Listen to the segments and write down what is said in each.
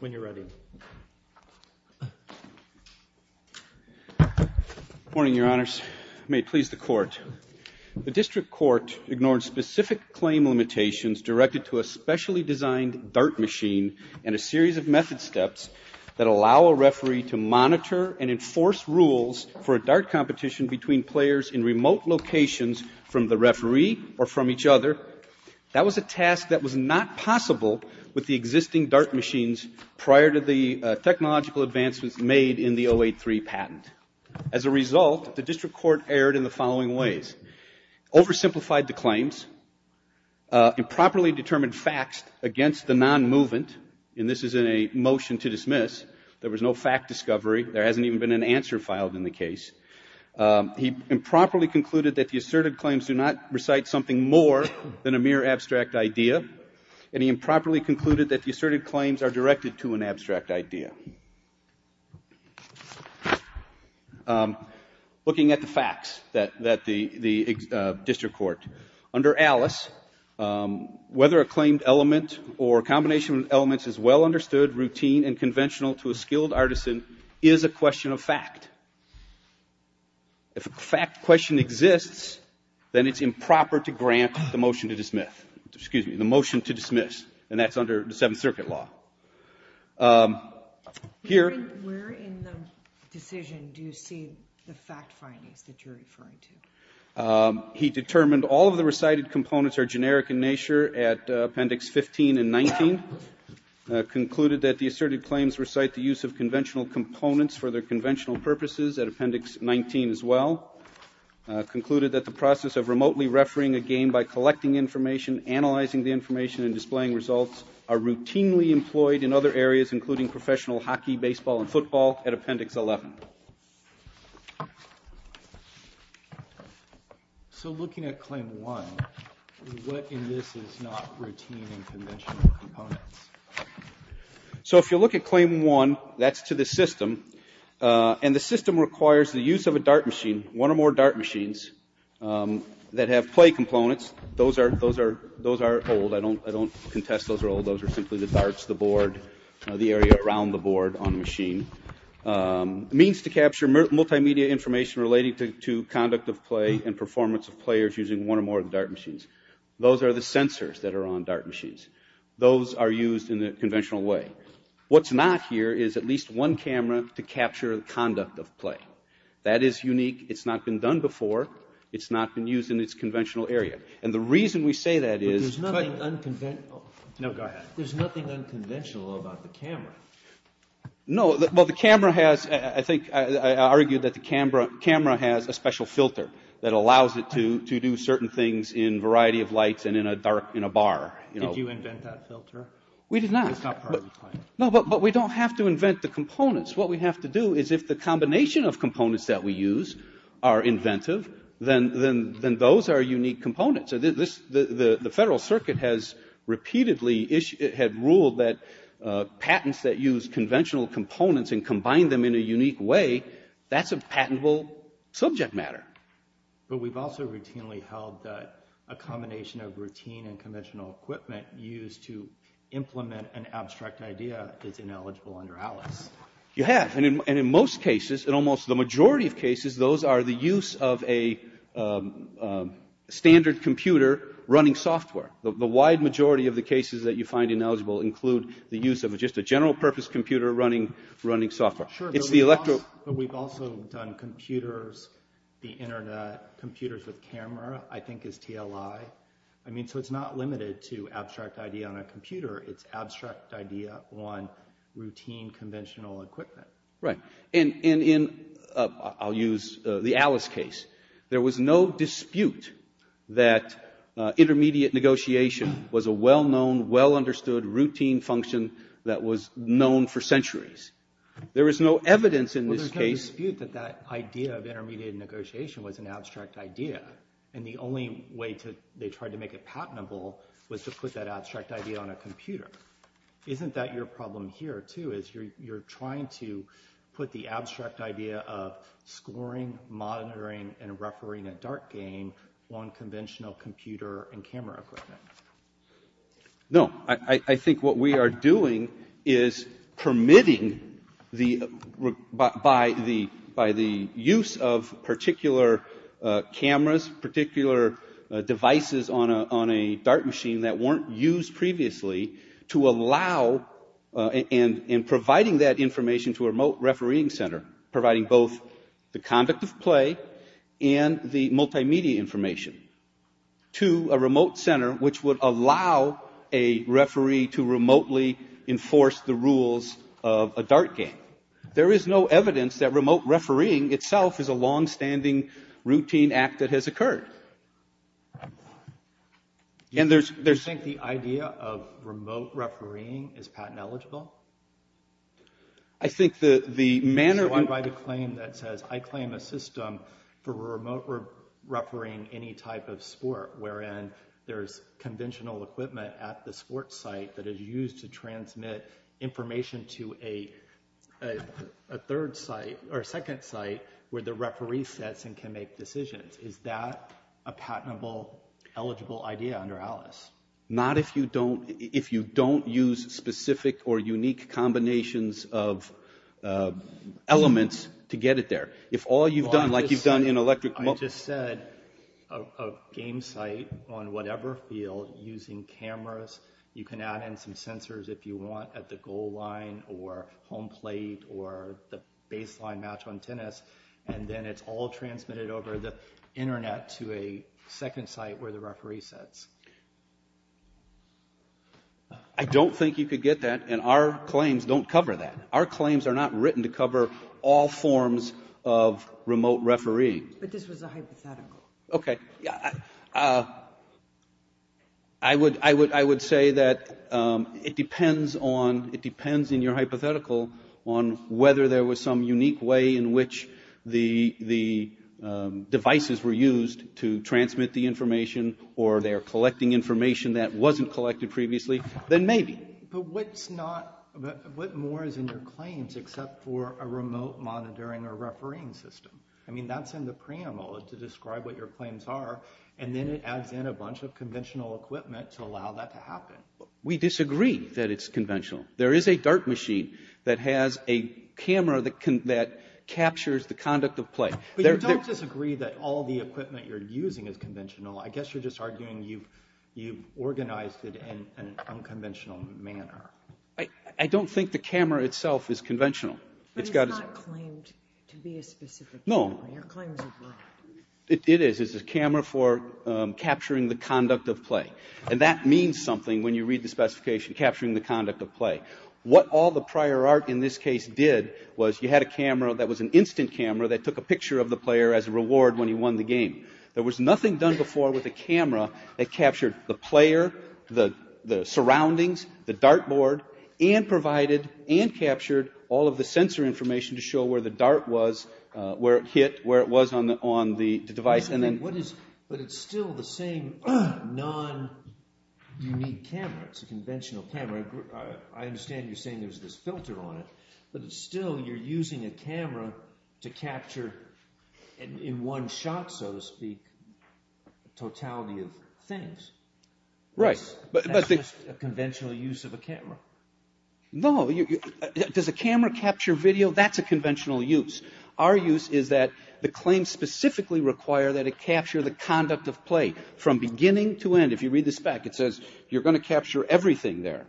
Good morning, Your Honors. May it please the Court. The District Court ignored specific claim limitations directed to a specially designed dart machine and a series of method steps that allow a referee to monitor and enforce rules for a dart competition between players in remote locations from the referee or from each other. That was a task that was not possible with the existing dart machines prior to the technological advancements made in the 083 patent. As a result, the District Court erred in the following ways. Oversimplified the claims. Improperly determined facts against the non-movement, and this is a motion to dismiss. There was no fact discovery. There hasn't even been an answer filed in the case. He improperly concluded that the asserted claims do not recite something more than a mere abstract idea, and he improperly concluded that the asserted claims are directed to an abstract idea. Looking at the facts that the District Court, under Alice, whether a claimed element or not, is a question of fact. If a fact question exists, then it's improper to grant the motion to dismiss, and that's under the Seventh Circuit law. Where in the decision do you see the fact findings that you're referring to? He determined all of the recited components are generic in nature at Appendix 15 and 19. Concluded that the asserted claims recite the use of conventional components for their conventional purposes at Appendix 19 as well. Concluded that the process of remotely referring a game by collecting information, analyzing the information, and displaying results are routinely employed in other areas, including professional hockey, baseball, and football at Appendix 11. So looking at Claim 1, what in this is not routine and conventional components? So if you look at Claim 1, that's to the system, and the system requires the use of a dart machine, one or more dart machines, that have play components. Those are old, I don't contest those are old, those are simply the darts, the board, the machines to capture multimedia information related to conduct of play and performance of players using one or more of the dart machines. Those are the sensors that are on dart machines. Those are used in a conventional way. What's not here is at least one camera to capture the conduct of play. That is unique. It's not been done before. It's not been used in its conventional area. And the reason we say that is, there's nothing unconventional about the camera. No, but the camera has, I think, I argue that the camera has a special filter that allows it to do certain things in a variety of lights and in a bar. Did you invent that filter? We did not. It's not part of the plan. No, but we don't have to invent the components. What we have to do is if the combination of components that we use are inventive, then those are unique components. The Federal Circuit has repeatedly ruled that patents that use conventional components and combine them in a unique way, that's a patentable subject matter. But we've also routinely held that a combination of routine and conventional equipment used to implement an abstract idea is ineligible under ALICE. You have, and in most cases, in almost the majority of cases, those are the use of a standard computer running software. The wide majority of the cases that you find ineligible include the use of just a general purpose computer running software. Sure, but we've also done computers, the internet, computers with camera, I think is TLI. I mean, so it's not limited to abstract idea on a computer, it's abstract idea on routine conventional equipment. Right. And in, I'll use the ALICE case, there was no dispute that intermediate negotiation was a well-known, well-understood routine function that was known for centuries. There was no evidence in this case. Well, there's no dispute that that idea of intermediate negotiation was an abstract idea, and the only way they tried to make it patentable was to put that abstract idea on a computer. Isn't that your problem here, too, is you're trying to put the abstract idea of scoring, monitoring, and referring a dart game on conventional computer and camera equipment? No, I think what we are doing is permitting the, by the use of particular cameras, particular devices on a dart machine that weren't used previously to allow, and providing that information to a remote refereeing center, providing both the conduct of play and the multimedia information to a remote center which would allow a referee to remotely enforce the rules of a dart game. There is no evidence that remote refereeing itself is a long-standing routine act that has occurred. And there's... Do you think the idea of remote refereeing is patent eligible? I think the manner... So I'm going to claim that says, I claim a system for remote refereeing any type of sport wherein there's conventional equipment at the sport site that is used to transmit information to a third site, or a second site, where the referee sets and can make decisions. Is that a patentable, eligible idea under ALICE? Not if you don't, if you don't use specific or unique combinations of elements to get it there. If all you've done, like you've done in electric... I just said, a game site on whatever field, using cameras, you can add in some sensors if you want at the goal line, or home plate, or the baseline match on tennis, and then it's all transmitted over the internet to a second site where the referee sets. I don't think you could get that, and our claims don't cover that. Our claims are not written to cover all forms of remote refereeing. But this was a hypothetical. Okay. I would say that it depends on, it depends in your hypothetical on whether there was some unique way in which the devices were used to transmit the information, or they are collecting information that wasn't collected previously, then maybe. But what's not, what more is in your claims except for a remote monitoring or refereeing system? I mean, that's in the preamble to describe what your claims are, and then it adds in a bunch of conventional equipment to allow that to happen. We disagree that it's conventional. There is a dart machine that has a camera that captures the conduct of play. But you don't disagree that all the equipment you're using is conventional, I guess you're just arguing you've organized it in an unconventional manner. I don't think the camera itself is conventional. But it's not claimed to be a specific camera, your claims are correct. It is, it's a camera for capturing the conduct of play, and that means something when you read the specification, capturing the conduct of play. What all the prior art in this case did was, you had a camera that was an instant camera that took a picture of the player as a reward when he won the game. There was nothing done before with a camera that captured the player, the surroundings, the dartboard, and provided and captured all of the sensor information to show where the dart was, where it hit, where it was on the device, and then... But it's still the same non-unique camera, it's a conventional camera. I understand you're saying there's this filter on it, but it's still, you're using a camera to capture in one shot, so to speak, the totality of things. Right. That's just a conventional use of a camera. No, does a camera capture video? That's a conventional use. Our use is that the claims specifically require that it capture the conduct of play from beginning to end. If you read the spec, it says you're going to capture everything there.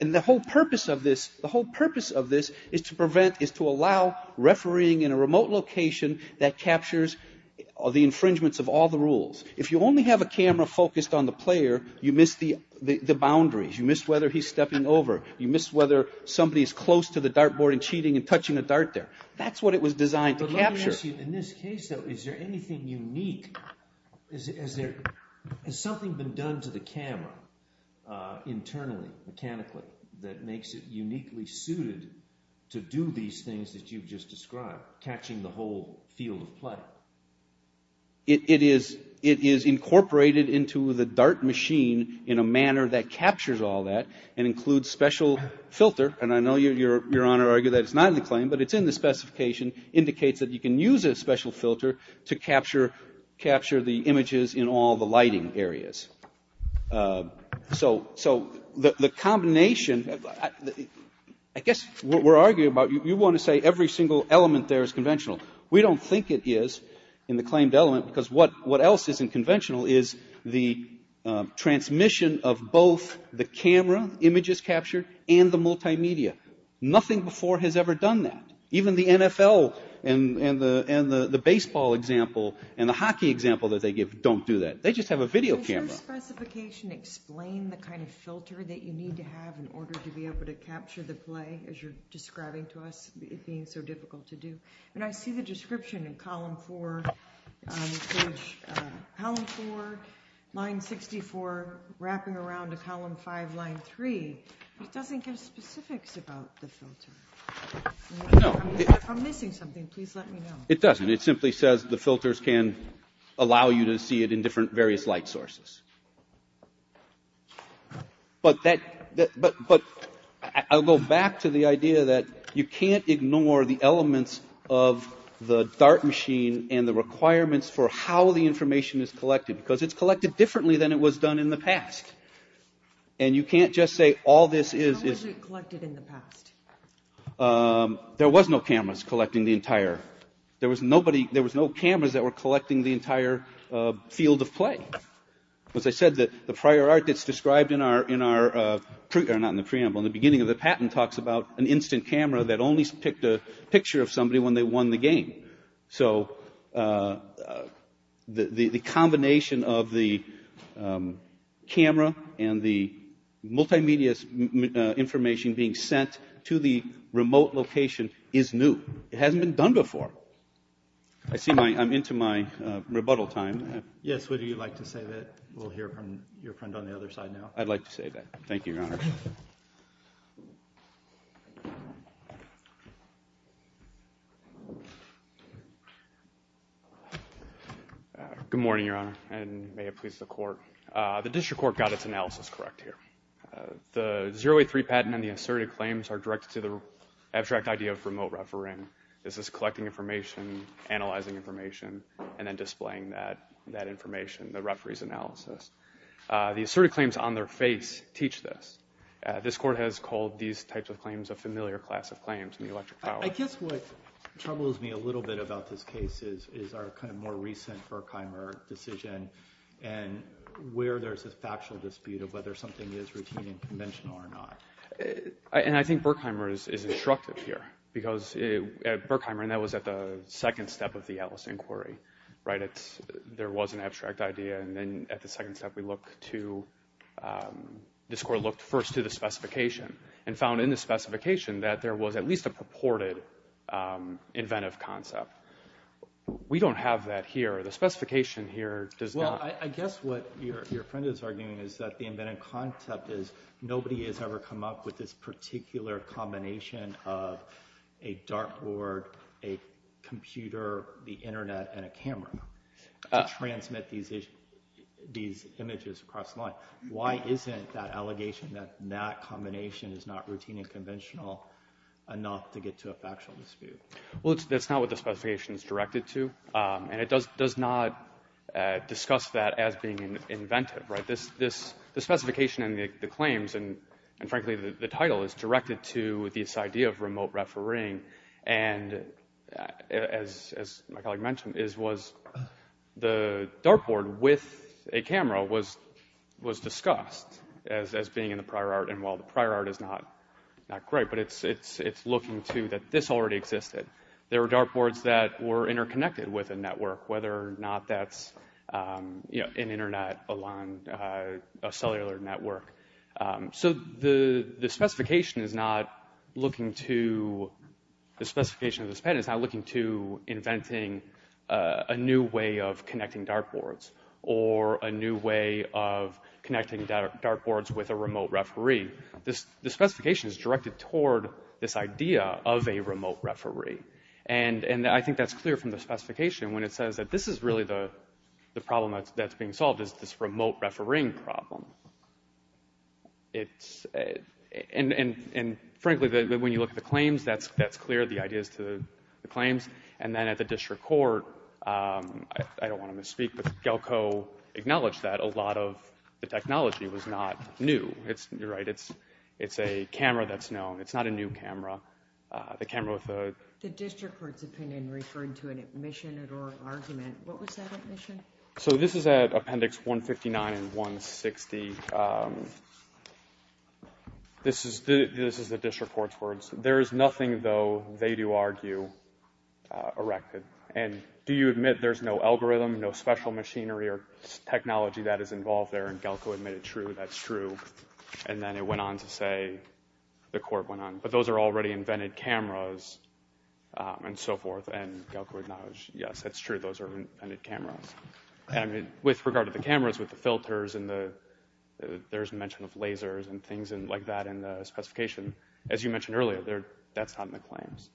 And the whole purpose of this is to prevent, is to allow refereeing in a remote location that captures the infringements of all the rules. If you only have a camera focused on the player, you miss the boundaries, you miss whether he's stepping over, you miss whether somebody's close to the dartboard and cheating and touching a dart there. That's what it was designed to capture. But let me ask you, in this case, though, is there anything unique? Has something been done to the camera internally, mechanically, that makes it uniquely suited to do these things that you've just described, catching the whole field of play? It is incorporated into the dart machine in a manner that captures all that and includes special filter, and I know your Honor argued that it's not in the claim, but it's in the specification, indicates that you can use a special filter to capture the images in all the lighting areas. So the combination, I guess what we're arguing about, you want to say every single element there is conventional. We don't think it is in the claimed element, because what else isn't conventional is the transmission of both the camera images captured and the multimedia. Nothing before has ever done that. Even the NFL and the baseball example and the hockey example that they give don't do that. They just have a video camera. Does your specification explain the kind of filter that you need to have in order to be able to capture the play, as you're describing to us, being so difficult to do? And I see the description in column four, line 64, wrapping around to column five, line three. It doesn't give specifics about the filter. No. If I'm missing something, please let me know. It doesn't. It simply says the filters can allow you to see it in different, various light sources. But I'll go back to the idea that you can't ignore the elements of the DART machine and the requirements for how the information is collected, because it's collected differently than it was done in the past. And you can't just say all this is... There was no cameras collecting the entire... There was nobody... There was no cameras that were collecting the entire field of play. As I said, the prior art that's described in our... Not in the preamble, in the beginning of the patent talks about an instant camera that only picked a picture of somebody when they won the game. So the combination of the camera and the multimedia information being sent to the remote location is new. It hasn't been done before. I see I'm into my rebuttal time. Yes. Would you like to say that? We'll hear from your friend on the other side now. I'd like to say that. Thank you, Your Honor. Good morning, Your Honor, and may it please the court. The district court got its analysis correct here. The 0A3 patent and the asserted claims are directed to the abstract idea of remote refereeing. This is collecting information, analyzing information, and then displaying that information, the referee's analysis. The asserted claims on their face teach this. This court has called these types of claims a familiar class of claims in the electric power. I guess what troubles me a little bit about this case is our kind of more recent Berkheimer decision, and where there's a factual dispute of whether something is routine and conventional or not. And I think Berkheimer is instructed here, because at Berkheimer, and that was at the second step of the Ellis inquiry, right, there was an abstract idea, and then at the second step we looked to, this court looked first to the specification, and found in the specification that there was at least a purported inventive concept. We don't have that here. The specification here does not... Well, I guess what your friend is arguing is that the inventive concept is nobody has ever come up with this particular combination of a dartboard, a computer, the internet, and a camera to transmit these images across the line. Why isn't that allegation that that combination is not routine and conventional enough to get to a factual dispute? Well, that's not what the specification is directed to, and it does not discuss that as being inventive, right? The specification and the claims, and frankly the title, is directed to this idea of remote camera was discussed as being in the prior art, and while the prior art is not great, but it's looking to that this already existed. There were dartboards that were interconnected with a network, whether or not that's an internet along a cellular network. So, the specification is not looking to... The specification of this patent is not looking to inventing a new way of connecting dartboards or a new way of connecting dartboards with a remote referee. The specification is directed toward this idea of a remote referee, and I think that's clear from the specification when it says that this is really the problem that's being solved is this remote refereeing problem. It's... And frankly, when you look at the claims, that's clear, the ideas to the claims, and then at the district court, I don't want to misspeak, but GALCO acknowledged that a lot of the technology was not new. You're right, it's a camera that's known. It's not a new camera. The camera with the... The district court's opinion referred to an admission at oral argument. What was that admission? So, this is at appendix 159 and 160. This is the district court's words. There is nothing, though, they do argue, erected. And do you admit there's no algorithm, no special machinery or technology that is involved there? And GALCO admitted, true, that's true. And then it went on to say, the court went on, but those are already invented cameras and so forth, and GALCO acknowledged, yes, that's true, those are invented cameras. And with regard to the cameras, with the filters and the... There's mention of lasers and things like that in the specification. As you mentioned earlier, that's not in the claims.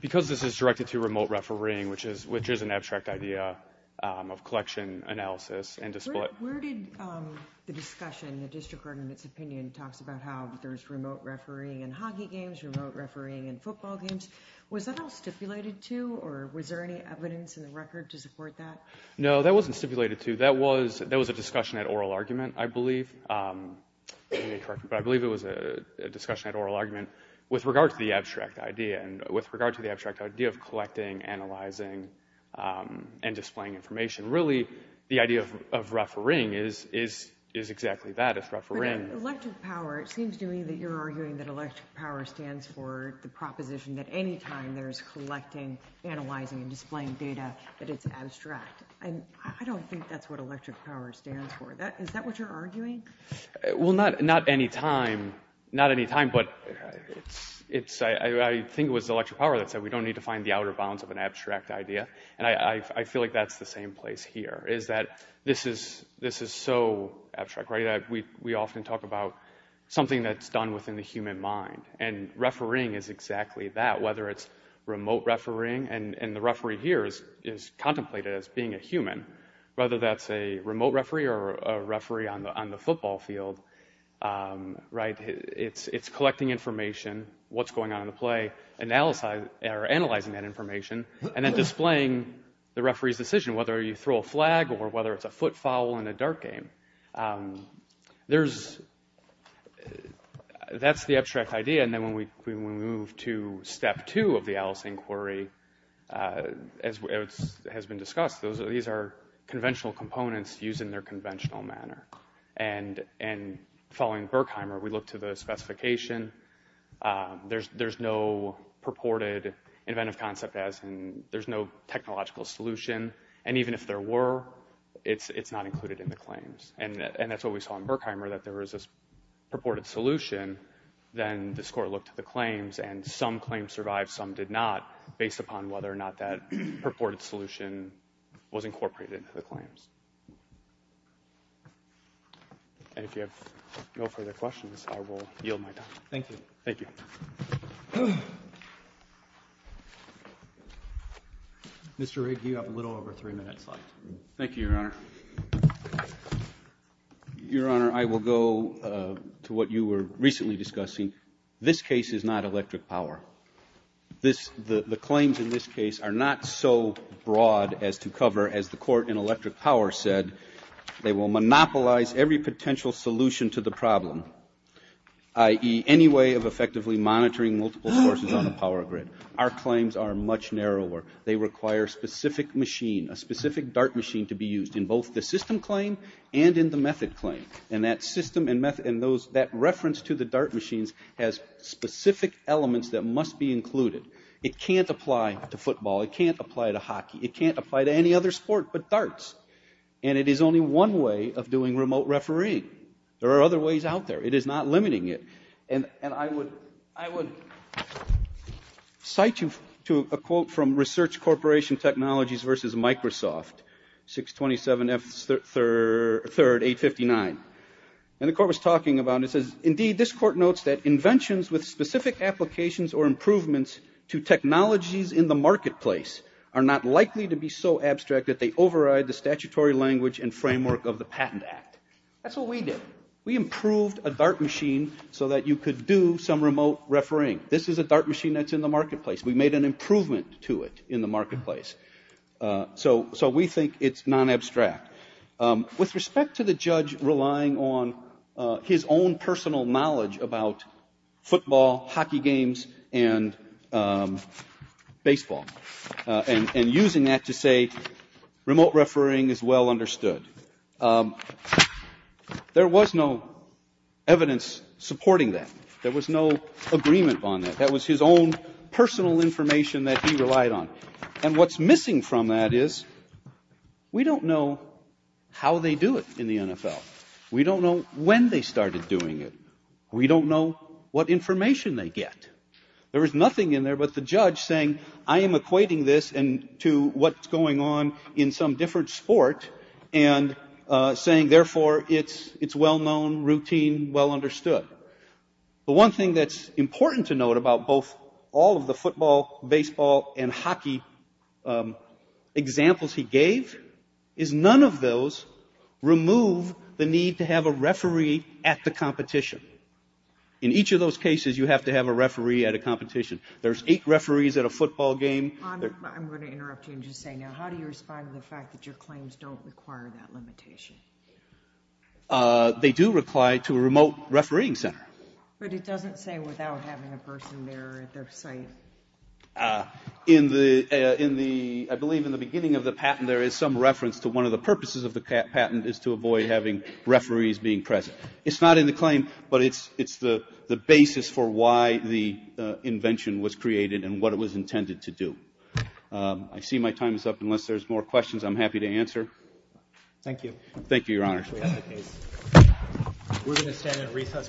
Because this is directed to remote refereeing, which is an abstract idea of collection analysis and display... Where did the discussion, the district court in its opinion, talks about how there's remote refereeing in hockey games, remote refereeing in football games. Was that all stipulated to, or was there any evidence in the record to support that? No, that wasn't stipulated to. That was a discussion at oral argument, I believe. Let me correct you. But I believe it was a discussion at oral argument with regard to the abstract idea and with regard to the abstract idea of collecting, analyzing, and displaying information. Really, the idea of refereeing is exactly that, it's refereeing... But in electric power, it seems to me that you're arguing that electric power stands for the proposition that any time there's collecting, analyzing, and displaying data, that it's abstract. And I don't think that's what electric power stands for. Is that what you're arguing? Well, not any time. Not any time, but I think it was electric power that said we don't need to find the outer bounds of an abstract idea. And I feel like that's the same place here, is that this is so abstract. We often talk about something that's done within the human mind. And refereeing is exactly that, whether it's remote refereeing. And the referee here is contemplated as being a human, whether that's a remote referee or a referee on the football field. It's collecting information, what's going on in the play, analyzing that information, and then displaying the referee's decision, whether you throw a flag or whether it's a foot foul in a dart game. That's the abstract idea. And then when we move to step two of the Alice inquiry, as has been discussed, these are conventional components used in their conventional manner. And following Berkheimer, we look to the specification. There's no purported inventive concept, as in there's no technological solution. And even if there were, it's not included in the claims. And that's what we saw in Berkheimer, that there was this purported solution. Then this Court looked at the claims, and some claims survived, some did not, based upon whether or not that purported solution was incorporated into the claims. And if you have no further questions, I will yield my time. Thank you. Thank you. Mr. Rigg, you have a little over three minutes left. Thank you, Your Honor. Your Honor, I will go to what you were recently discussing. This case is not electric power. The claims in this case are not so broad as to cover, as the court in electric power said, they will monopolize every potential solution to the problem, i.e., any way of effectively monitoring multiple sources on a power grid. Our claims are much narrower. They require a specific machine, a specific dart machine, to be used in both the system claim and in the method claim. And that reference to the dart machines has specific elements that must be included. It can't apply to football. It can't apply to hockey. It can't apply to any other sport but darts. And it is only one way of doing remote refereeing. There are other ways out there. It is not limiting it. And I would cite you to a quote from Research Corporation Technologies v. Microsoft, 627 F. 3rd, 859. And the court was talking about it. It says, indeed, this court notes that inventions with specific applications or improvements to technologies in the marketplace are not likely to be so abstract that they override the statutory language and framework of the Patent Act. That's what we did. We improved a dart machine so that you could do some remote refereeing. This is a dart machine that's in the marketplace. We made an improvement to it in the marketplace. So we think it's non-abstract. With respect to the judge relying on his own personal knowledge about football, hockey games, and baseball and using that to say remote refereeing is well understood, there was no evidence supporting that. There was no agreement on that. That was his own personal information that he relied on. And what's missing from that is we don't know how they do it in the NFL. We don't know when they started doing it. We don't know what information they get. There was nothing in there but the judge saying, I am equating this to what's going on in some different sport and saying, therefore, it's well known, routine, well understood. The one thing that's important to note about both all of the football, baseball, and hockey examples he gave is none of those remove the need to have a referee at the competition. In each of those cases, you have to have a referee at a competition. There's eight referees at a football game. I'm going to interrupt you and just say now, how do you respond to the fact that your claims don't require that limitation? They do reply to a remote refereeing center. But it doesn't say without having a person there at their site. In the ‑‑ I believe in the beginning of the patent, there is some reference to one of the purposes of the patent is to avoid having referees being present. It's not in the claim, but it's the basis for why the invention was created and what it was intended to do. I see my time is up. Unless there's more questions, I'm happy to answer. Thank you. Thank you, Your Honor. We're going to stand at recess briefly.